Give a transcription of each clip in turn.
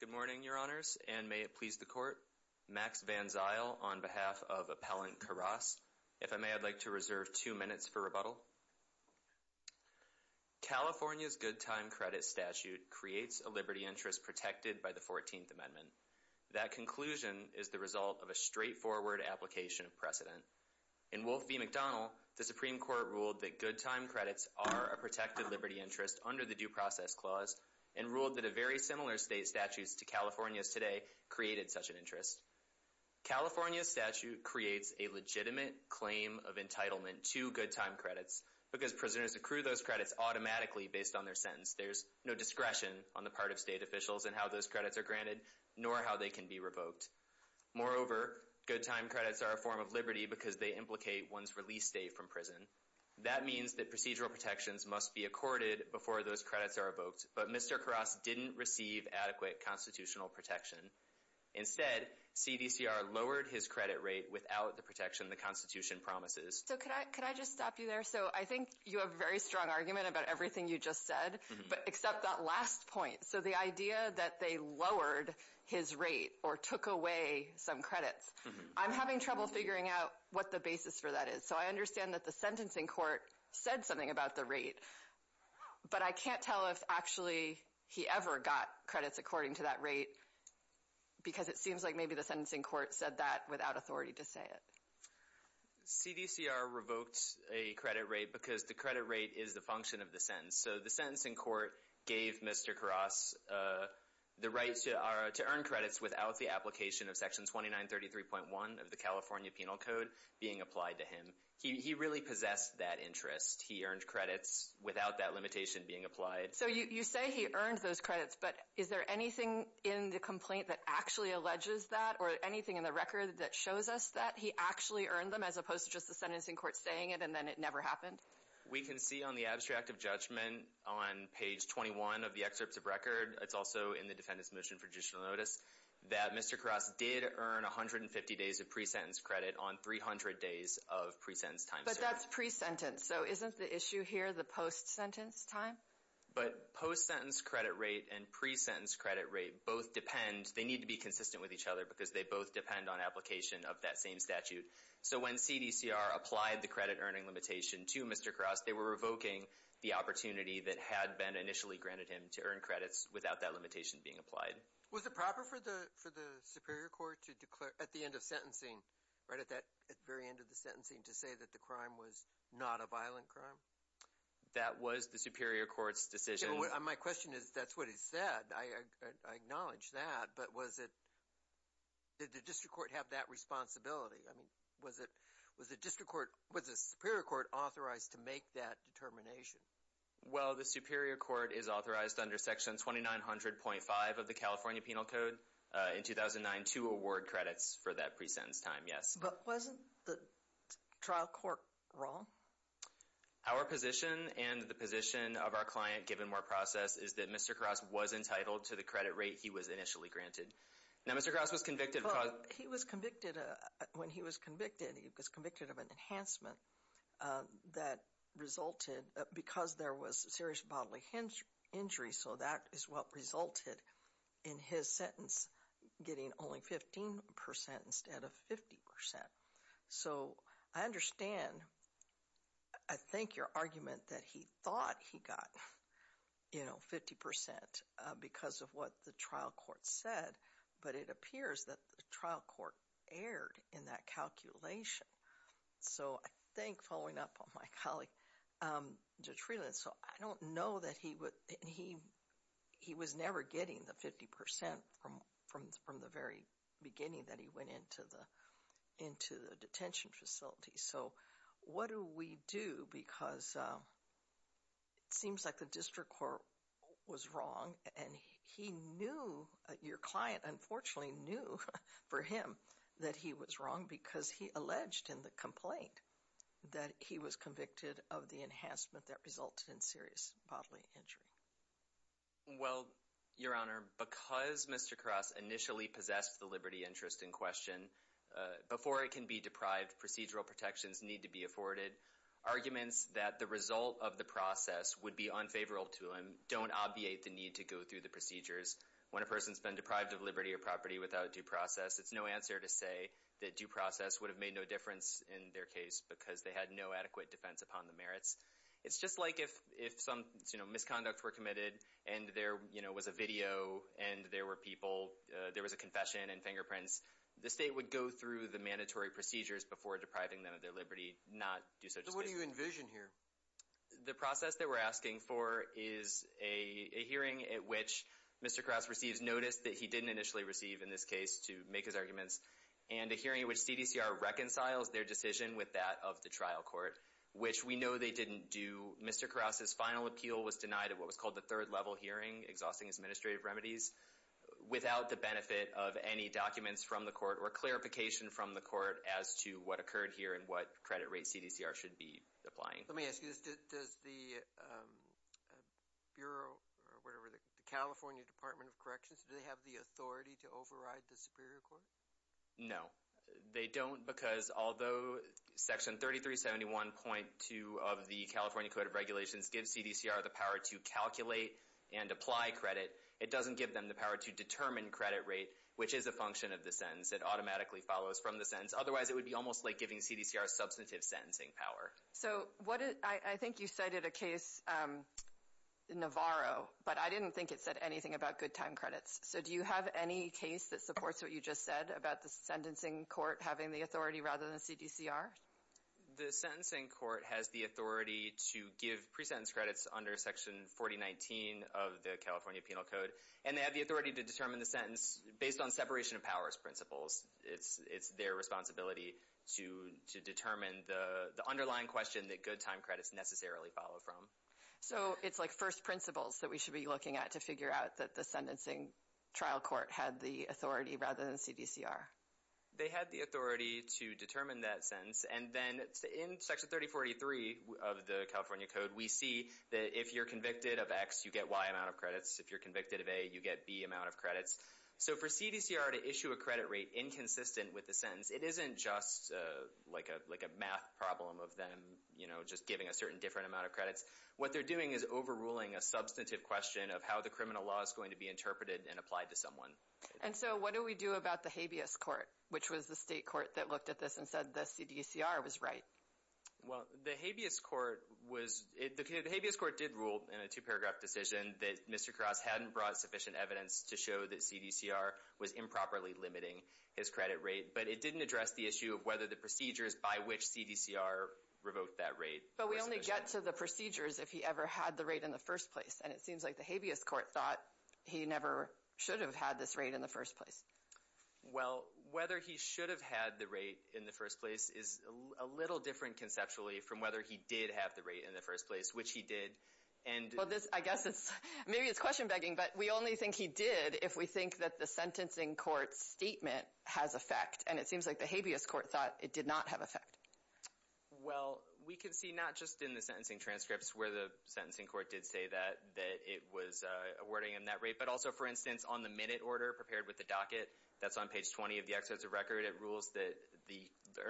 Good morning, Your Honors, and may it please the Court, Max Van Zyl on behalf of Appellant Karas. If I may, I'd like to reserve two minutes for rebuttal. California's good time credit statute creates a liberty interest protected by the 14th Amendment. That conclusion is the result of a straightforward application of precedent. In Wolf v. McDonnell, the Supreme Court ruled that good time credits are a protected liberty interest under the Due Process Clause and ruled that a very similar state statute to California's today created such an interest. California's statute creates a legitimate claim of entitlement to good time credits because prisoners accrue those credits automatically based on their sentence. There's no discretion on the part of state officials in how those credits are granted nor how they can be revoked. Moreover, good time credits are a form of liberty because they implicate one's release date from prison. That means that procedural protections must be accorded before those credits are revoked, but Mr. Karas didn't receive adequate constitutional protection. Instead, CDCR lowered his credit rate without the protection the Constitution promises. So, could I just stop you there? So I think you have a very strong argument about everything you just said, but accept that last point. So the idea that they lowered his rate or took away some credits, I'm having trouble figuring out what the basis for that is. So I understand that the sentencing court said something about the rate, but I can't tell if actually he ever got credits according to that rate because it seems like maybe the sentencing court said that without authority to say it. CDCR revoked a credit rate because the credit rate is the function of the sentence. So the sentencing court gave Mr. Karas the right to earn credits without the application of Section 2933.1 of the California Penal Code being applied to him. He really possessed that interest. He earned credits without that limitation being applied. So you say he earned those credits, but is there anything in the complaint that actually alleges that or anything in the record that shows us that he actually earned them as opposed to just the sentencing court saying it and then it never happened? We can see on the abstract of judgment on page 21 of the excerpts of record, it's also in the defendant's motion for judicial notice that Mr. Karas did earn 150 days of pre-sentence credit on 300 days of pre-sentence time served. But that's pre-sentence, so isn't the issue here the post-sentence time? But post-sentence credit rate and pre-sentence credit rate both depend, they need to be consistent with each other because they both depend on application of that same statute. So when CDCR applied the credit earning limitation to Mr. Karas, they were revoking the opportunity that had been initially granted him to earn credits without that limitation being applied. Was it proper for the Superior Court to declare, at the end of sentencing, right at that very end of the sentencing, to say that the crime was not a violent crime? That was the Superior Court's decision. My question is, that's what he said, I acknowledge that, but was it, did the District Court have that responsibility? I mean, was it, was the District Court, was the Superior Court authorized to make that determination? Well, the Superior Court is authorized under Section 2900.5 of the California Penal Code in 2009 to award credits for that pre-sentence time, yes. But wasn't the trial court wrong? Our position and the position of our client, given our process, is that Mr. Karas was entitled to the credit rate he was initially granted. Now, Mr. Karas was convicted of... He was convicted, when he was convicted, he was convicted of an enhancement that resulted because there was a serious bodily injury, so that is what resulted in his sentence getting only 15% instead of 50%. So I understand, I think, your argument that he thought he got, you know, 50% because of what the trial court said, but it appears that the trial court erred in that calculation. So I think, following up on my colleague Judge Freeland, so I don't know that he was never getting the 50% from the very beginning that he went into the detention facility. So what do we do because it seems like the District Court was wrong and he knew, your argument, that he was wrong because he alleged in the complaint that he was convicted of the enhancement that resulted in serious bodily injury? Well, your Honor, because Mr. Karas initially possessed the liberty interest in question, before it can be deprived, procedural protections need to be afforded. Arguments that the result of the process would be unfavorable to him don't obviate the need to go through the procedures. When a person's been deprived of liberty or property without due process, it's no answer to say that due process would have made no difference in their case because they had no adequate defense upon the merits. It's just like if some, you know, misconduct were committed and there, you know, was a video and there were people, there was a confession and fingerprints, the state would go through the mandatory procedures before depriving them of their liberty, not do such a thing. So what do you envision here? The process that we're asking for is a hearing at which Mr. Karas receives notice that he And a hearing in which CDCR reconciles their decision with that of the trial court, which we know they didn't do. Mr. Karas' final appeal was denied at what was called the third level hearing, exhausting his administrative remedies, without the benefit of any documents from the court or clarification from the court as to what occurred here and what credit rate CDCR should be applying. Let me ask you this, does the Bureau, or whatever, the California Department of Corrections, do they have the authority to override the Superior Court? No, they don't because although Section 3371.2 of the California Code of Regulations gives CDCR the power to calculate and apply credit, it doesn't give them the power to determine credit rate, which is a function of the sentence. It automatically follows from the sentence. Otherwise, it would be almost like giving CDCR substantive sentencing power. So what is, I think you cited a case, Navarro, but I didn't think it said anything about good time credits. So do you have any case that supports what you just said about the sentencing court having the authority rather than CDCR? The sentencing court has the authority to give pre-sentence credits under Section 4019 of the California Penal Code, and they have the authority to determine the sentence based on separation of powers principles. It's their responsibility to determine the underlying question that good time credits necessarily follow from. So it's like first principles that we should be looking at to figure out that the sentencing trial court had the authority rather than CDCR. They had the authority to determine that sentence, and then in Section 3043 of the California Code, we see that if you're convicted of X, you get Y amount of credits. If you're convicted of A, you get B amount of credits. So for CDCR to issue a credit rate inconsistent with the sentence, it isn't just like a math problem of them, you know, just giving a certain different amount of credits. What they're doing is overruling a substantive question of how the criminal law is going to be interpreted and applied to someone. And so what do we do about the habeas court, which was the state court that looked at this and said the CDCR was right? Well, the habeas court was, the habeas court did rule in a two-paragraph decision that Mr. Krause hadn't brought sufficient evidence to show that CDCR was improperly limiting his credit rate, but it didn't address the issue of whether the procedures by which CDCR revoked that rate were sufficient. But we only get to the procedures if he ever had the rate in the first place, and it seems like the habeas court thought he never should have had this rate in the first place. Well, whether he should have had the rate in the first place is a little different conceptually from whether he did have the rate in the first place, which he did, and... Well, this, I guess it's, maybe it's question begging, but we only think he did if we think that the sentencing court's statement has effect, and it seems like the habeas court thought it did not have effect. Well, we can see not just in the sentencing transcripts where the sentencing court did say that, that it was awarding him that rate, but also, for instance, on the minute order prepared with the docket that's on page 20 of the exercise of record, it rules that the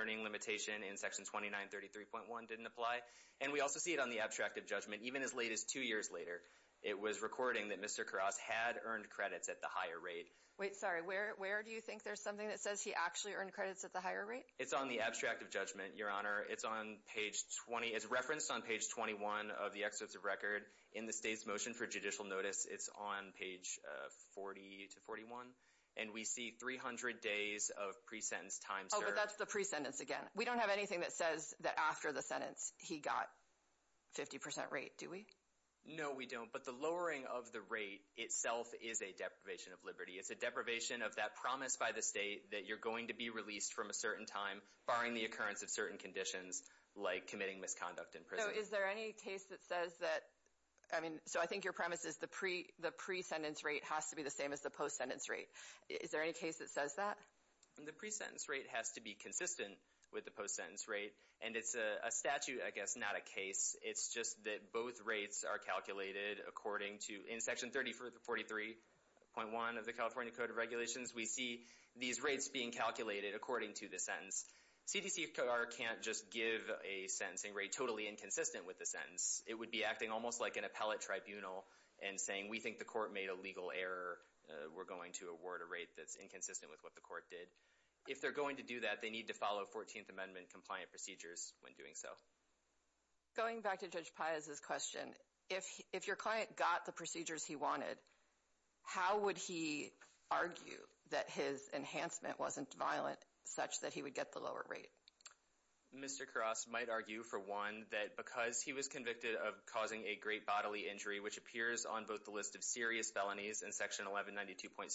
earning limitation in section 2933.1 didn't apply. And we also see it on the abstract of judgment, even as late as two years later, it was recording that Mr. Karras had earned credits at the higher rate. Wait, sorry, where do you think there's something that says he actually earned credits at the higher rate? It's on the abstract of judgment, Your Honor. It's on page 20, it's referenced on page 21 of the exercise of record. In the state's motion for judicial notice, it's on page 40 to 41, and we see 300 days of pre-sentence time, sir. Oh, but that's the pre-sentence again. We don't have anything that says that after the sentence, he got 50% rate, do we? No, we don't, but the lowering of the rate itself is a deprivation of liberty. It's a deprivation of that promise by the state that you're going to be released from a certain time, barring the occurrence of certain conditions, like committing misconduct in prison. No, is there any case that says that, I mean, so I think your premise is the pre-sentence rate has to be the same as the post-sentence rate. Is there any case that says that? The pre-sentence rate has to be consistent with the post-sentence rate, and it's a statute, I guess, not a case. It's just that both rates are calculated according to, in section 33.43.1 of the California Code of Regulations, we see these rates being calculated according to the sentence. CDCR can't just give a sentencing rate totally inconsistent with the sentence. It would be acting almost like an appellate tribunal and saying, we think the court made a legal error. We're going to award a rate that's inconsistent with what the court did. If they're going to do that, they need to follow 14th Amendment compliant procedures when doing so. Going back to Judge Piazza's question, if your client got the procedures he wanted, how would he argue that his enhancement wasn't violent such that he would get the lower rate? Mr. Karras might argue, for one, that because he was convicted of causing a great bodily injury, which appears on both the list of serious felonies in section 1192.7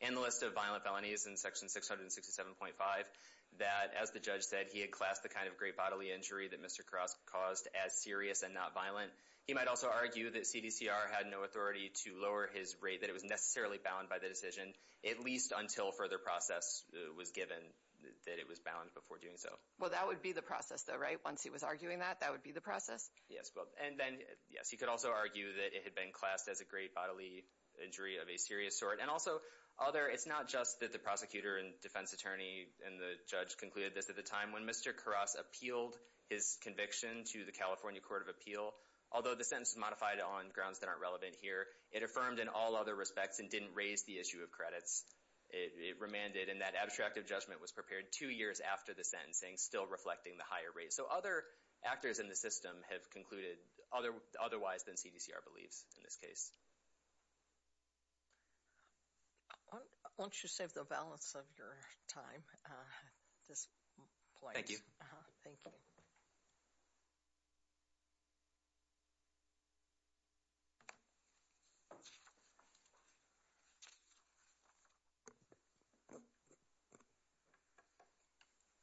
and the list of violent felonies in section 667.5, that, as the judge said, he had classed the kind of great bodily injury that Mr. Karras caused as serious and not violent. He might also argue that CDCR had no authority to lower his rate, that it was necessarily bound by the decision, at least until further process was given that it was bound before doing so. Well, that would be the process, though, right? Once he was arguing that, that would be the process? Yes. And then, yes, he could also argue that it had been classed as a great bodily injury of a serious sort. And also, it's not just that the prosecutor and defense attorney and the judge concluded this at the time when Mr. Karras appealed his conviction to the California Court of Appeal. Although the sentence is modified on grounds that aren't relevant here, it affirmed in all other respects and didn't raise the issue of credits. It remanded, and that abstracted judgment was prepared two years after the sentencing, still reflecting the higher rate. So other actors in the system have concluded otherwise than CDCR believes in this case. Why don't you save the balance of your time? This polite. Thank you. Uh-huh. Thank you.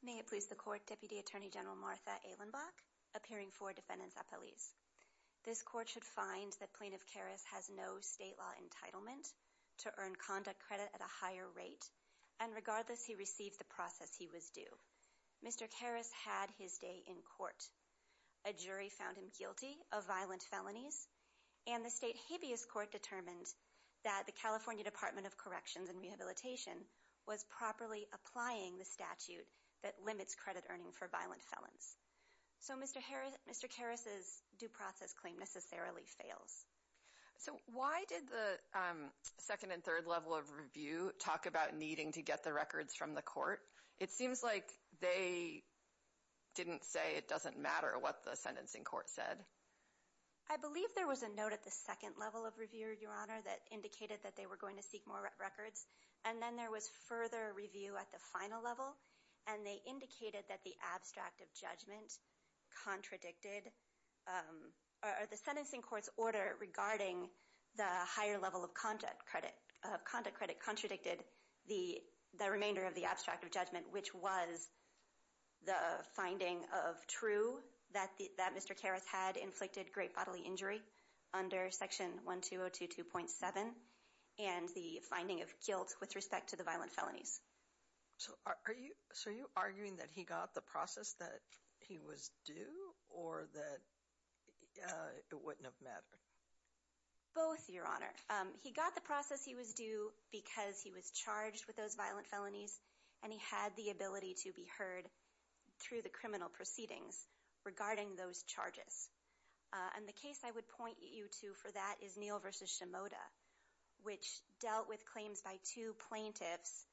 May it please the court, Deputy Attorney General Martha Ehlenbach, appearing for defendants at police. This court should find that Plaintiff Karras has no state law entitlement to earn conduct credit at a higher rate, and regardless, he received the process he was due. Mr. Karras had his day in court. A jury found him guilty of violent felonies, and the state habeas court determined that the California Department of Corrections and Rehabilitation was properly applying the statute that limits credit earning for violent felons. So Mr. Karras's due process claim necessarily fails. So why did the second and third level of review talk about needing to get the records from the court? It seems like they didn't say it doesn't matter what the sentencing court said. I believe there was a note at the second level of review, Your Honor, that indicated that they were going to seek more records, and then there was further review at the final level, and they indicated that the abstract of judgment contradicted, or the sentencing court's order regarding the higher level of conduct credit contradicted the remainder of the abstract of judgment, which was the finding of true that Mr. Karras had inflicted great bodily injury under Section 1202.7, and the finding of guilt with respect to the violent felonies. So are you arguing that he got the process that he was due, or that it wouldn't have mattered? Both, Your Honor. He got the process he was due because he was charged with those violent felonies, and he had the ability to be heard through the criminal proceedings regarding those charges. And the case I would point you to for that is Neal v. Shimoda, which dealt with claims by two plaintiffs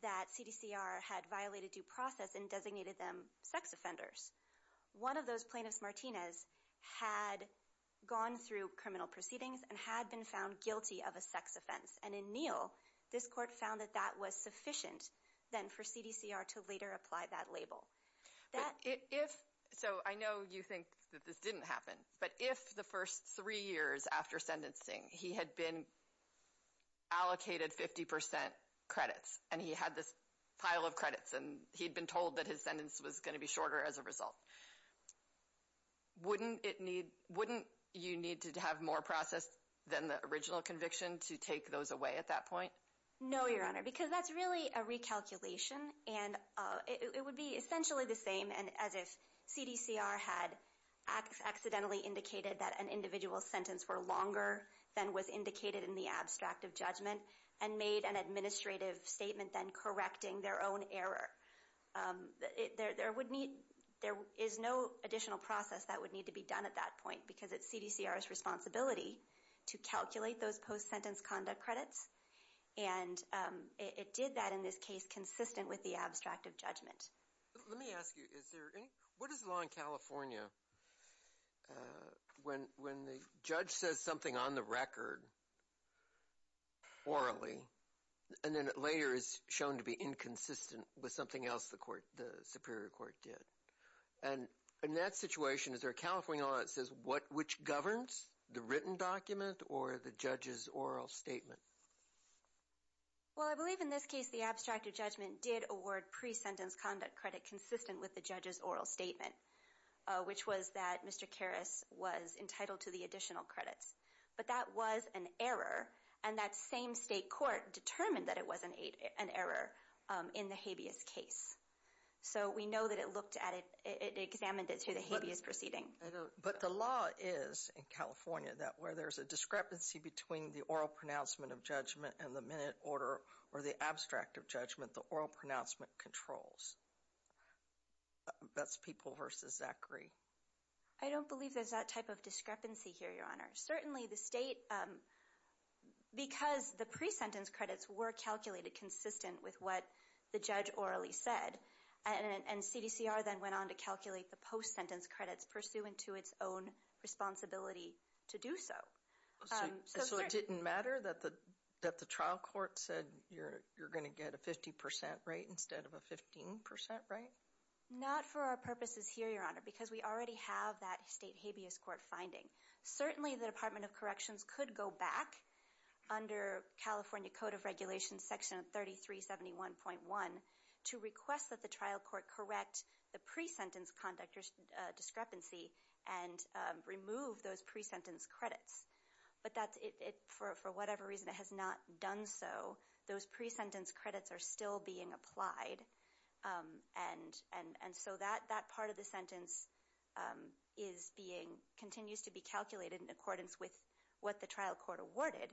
that CDCR had violated due process and designated them sex offenders. One of those plaintiffs, Martinez, had gone through criminal proceedings and had been found guilty of a sex offense, and in Neal, this court found that that was sufficient then for CDCR to later apply that label. So I know you think that this didn't happen, but if the first three years after sentencing he had been allocated 50% credits, and he had this pile of credits, and he'd been told that his sentence was going to be shorter as a result, wouldn't you need to have more process than the original conviction to take those away at that point? No, Your Honor, because that's really a recalculation, and it would be essentially the same as if then was indicated in the abstract of judgment and made an administrative statement then correcting their own error. There is no additional process that would need to be done at that point, because it's CDCR's responsibility to calculate those post-sentence conduct credits, and it did that in this case consistent with the abstract of judgment. Let me ask you, what is the law in California when the judge says something on the record orally, and then it later is shown to be inconsistent with something else the Superior Court did? And in that situation, is there a California law that says which governs, the written document or the judge's oral statement? Well, I believe in this case the abstract of judgment did award pre-sentence conduct credit consistent with the judge's oral statement, which was that Mr. Karras was entitled to the additional credits. But that was an error, and that same state court determined that it was an error in the habeas case. So we know that it looked at it, it examined it through the habeas proceeding. But the law is in California that where there's a discrepancy between the oral pronouncement of judgment and the minute order or the abstract of judgment, the oral pronouncement controls. That's People v. Zachary. I don't believe there's that type of discrepancy here, Your Honor. Certainly the state, because the pre-sentence credits were calculated consistent with what the judge orally said, and CDCR then went on to calculate the post-sentence credits pursuant to its own responsibility to do so. So it didn't matter that the trial court said you're going to get a 50 percent rate instead of a 15 percent rate? Not for our purposes here, Your Honor, because we already have that state habeas court finding. Certainly the Department of Corrections could go back under California Code of Regulations Section 3371.1 to request that the trial court correct the pre-sentence conduct discrepancy and remove those pre-sentence credits. But for whatever reason, it has not done so. Those pre-sentence credits are still being applied. And so that part of the sentence continues to be calculated in accordance with what the trial court awarded.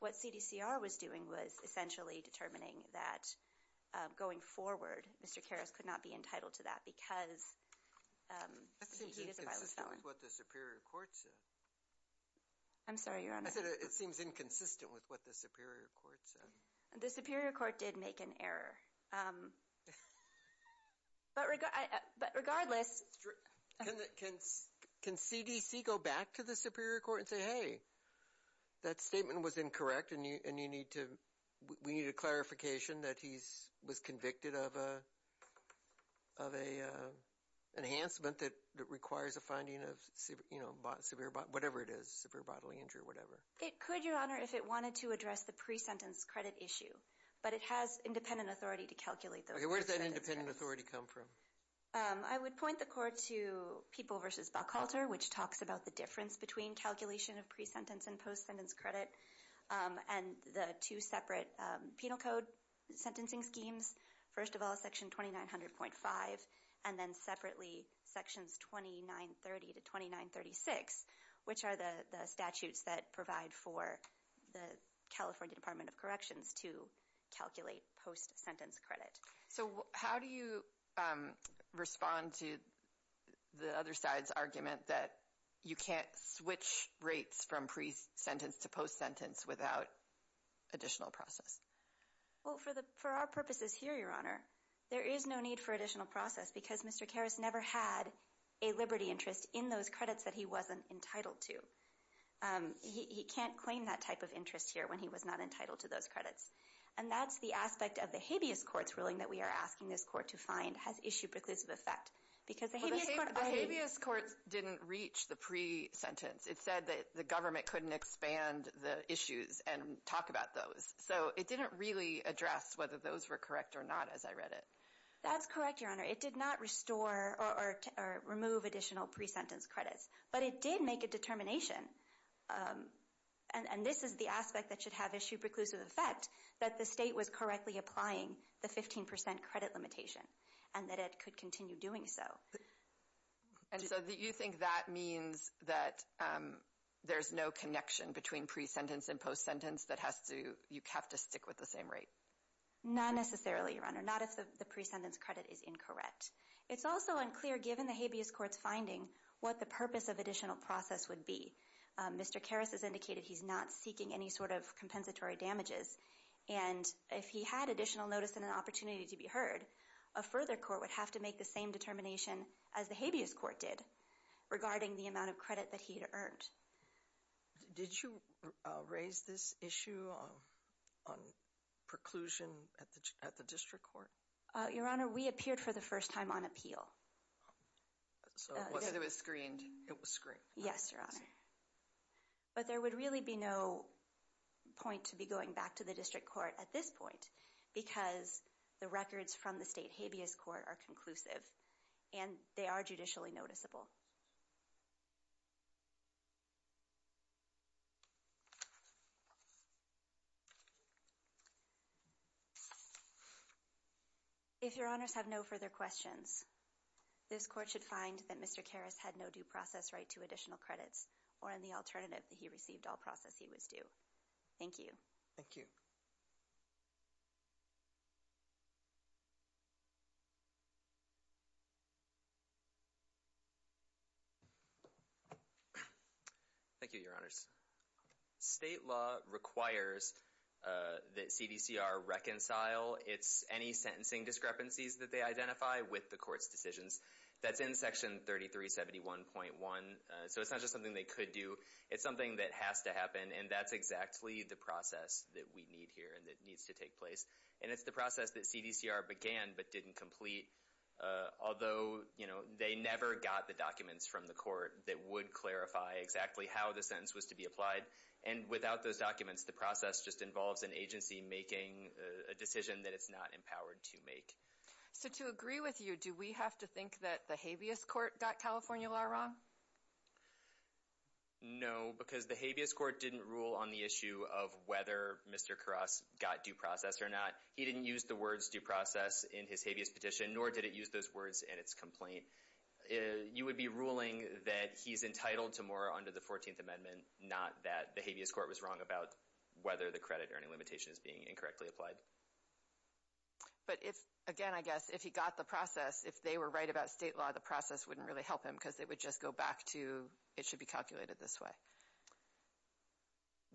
What CDCR was doing was essentially determining that going forward, Mr. Karras could not be entitled to that because he was a violent felon. That seems inconsistent with what the superior court said. I'm sorry, Your Honor? I said it seems inconsistent with what the superior court said. The superior court did make an error, but regardless. Can CDC go back to the superior court and say, hey, that statement was incorrect and you need to, we need a clarification that he was convicted of an enhancement that requires a finding of, you know, severe bodily, whatever it is, severe bodily injury or whatever. It could, Your Honor, if it wanted to address the pre-sentence credit issue. But it has independent authority to calculate those pre-sentence credits. Okay, where does that independent authority come from? I would point the court to People v. Buckhalter, which talks about the difference between calculation of pre-sentence and post-sentence credit and the two separate penal code sentencing schemes. First of all, Section 2900.5, and then separately, Sections 2930 to 2936, which are the statutes that provide for the California Department of Corrections to calculate post-sentence credit. So how do you respond to the other side's argument that you can't switch rates from pre-sentence to post-sentence without additional process? Well, for our purposes here, Your Honor, there is no need for additional process because Mr. Karras never had a liberty interest in those credits that he wasn't entitled to. He can't claim that type of interest here when he was not entitled to those credits. And that's the aspect of the habeas court's ruling that we are asking this court to find has issue preclusive effect. Because the habeas court... The habeas court didn't reach the pre-sentence. It said that the government couldn't expand the issues and talk about those. So it didn't really address whether those were correct or not as I read it. That's correct, Your Honor. It did not restore or remove additional pre-sentence credits. But it did make a determination, and this is the aspect that should have issue preclusive effect, that the state was correctly applying the 15% credit limitation and that it could continue doing so. And so you think that means that there's no connection between pre-sentence and post-sentence that has to... You have to stick with the same rate? Not necessarily, Your Honor. Not if the pre-sentence credit is incorrect. It's also unclear, given the habeas court's finding, what the purpose of additional process would be. Mr. Karras has indicated he's not seeking any sort of compensatory damages. And if he had additional notice and an opportunity to be heard, a further court would have to make the same determination as the habeas court did regarding the amount of credit that he had earned. Did you raise this issue on preclusion at the district court? Your Honor, we appeared for the first time on appeal. So it was screened? It was screened. Yes, Your Honor. But there would really be no point to be going back to the district court at this point because the records from the state habeas court are conclusive and they are judicially noticeable. If Your Honors have no further questions, this court should find that Mr. Karras had no due process right to additional credits or any alternative that he received all process he was due. Thank you. Thank you. Thank you, Your Honors. State law requires that CDCR reconcile any sentencing discrepancies that they identify with the court's decisions. That's in Section 3371.1. So it's not just something they could do. It's something that has to happen. And that's exactly the process that we need here and that needs to take place. And it's the process that CDCR began but didn't complete, although, you know, they never got the documents from the court that would clarify exactly how the sentence was to be applied. And without those documents, the process just involves an agency making a decision that it's not empowered to make. So to agree with you, do we have to think that the habeas court got California law wrong? No, because the habeas court didn't rule on the issue of whether Mr. Karras got due process or not. He didn't use the words due process in his habeas petition, nor did it use those words in its complaint. You would be ruling that he's entitled to more under the 14th Amendment, not that the habeas court was wrong about whether the credit earning limitation is being incorrectly applied. But if, again, I guess, if he got the process, if they were right about state law, the process wouldn't really help him because it would just go back to it should be calculated this way.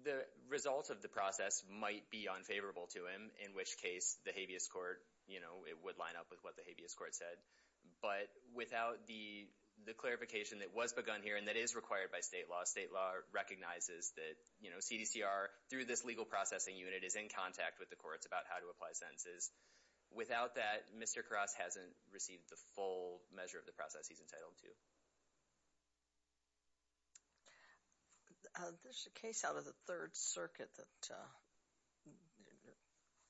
The result of the process might be unfavorable to him, in which case the habeas court, you know, it would line up with what the habeas court said. But without the clarification that was begun here and that is required by state law, state law recognizes that, you know, CDCR, through this legal processing unit, is in contact with the courts about how to apply sentences. Without that, Mr. Karras hasn't received the full measure of the process he's entitled to. There's a case out of the Third Circuit that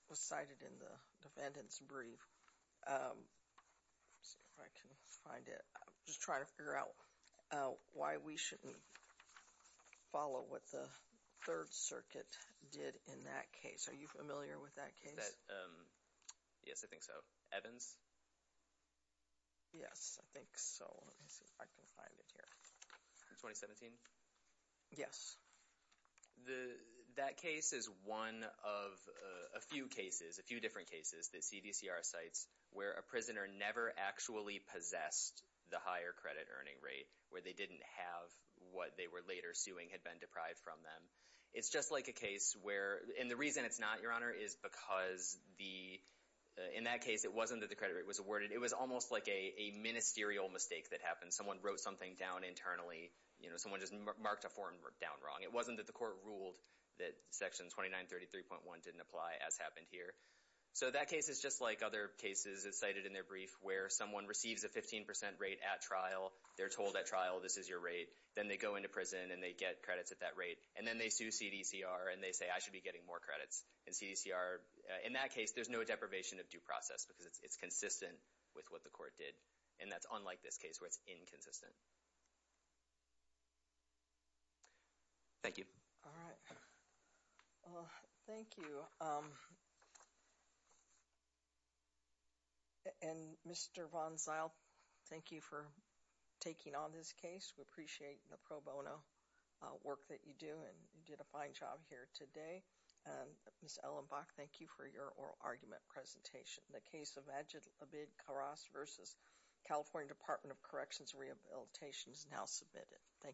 was cited in the defendant's brief. Let's see if I can find it. I'm just trying to figure out why we shouldn't follow what the Third Circuit did in that case. Are you familiar with that case? Yes, I think so. Evans? Yes, I think so. Let me see if I can find it here. From 2017? Yes. That case is one of a few cases, a few different cases that CDCR cites where a prisoner never actually possessed the higher credit earning rate, where they didn't have what they were later suing had been deprived from them. It's just like a case where, and the reason it's not, Your Honor, is because the, in that case, it wasn't that the credit rate was awarded. It was almost like a ministerial mistake that happened. Someone wrote something down internally. You know, someone just marked a form down wrong. It wasn't that the court ruled that Section 2933.1 didn't apply, as happened here. So that case is just like other cases that's cited in their brief where someone receives a 15% rate at trial. They're told at trial, this is your rate. Then they go into prison, and they get credits at that rate. And then they sue CDCR, and they say, I should be getting more credits. And CDCR, in that case, there's no deprivation of due process because it's consistent with what the court did. And that's unlike this case where it's inconsistent. Thank you. All right. Well, thank you. And, Mr. Von Zyl, thank you for taking on this case. We appreciate the pro bono work that you do, and you did a fine job here today. And, Ms. Ellenbach, thank you for your oral argument presentation. The case of Majid Abid Karas v. California Department of Corrections Rehabilitation is now submitted. Thank you.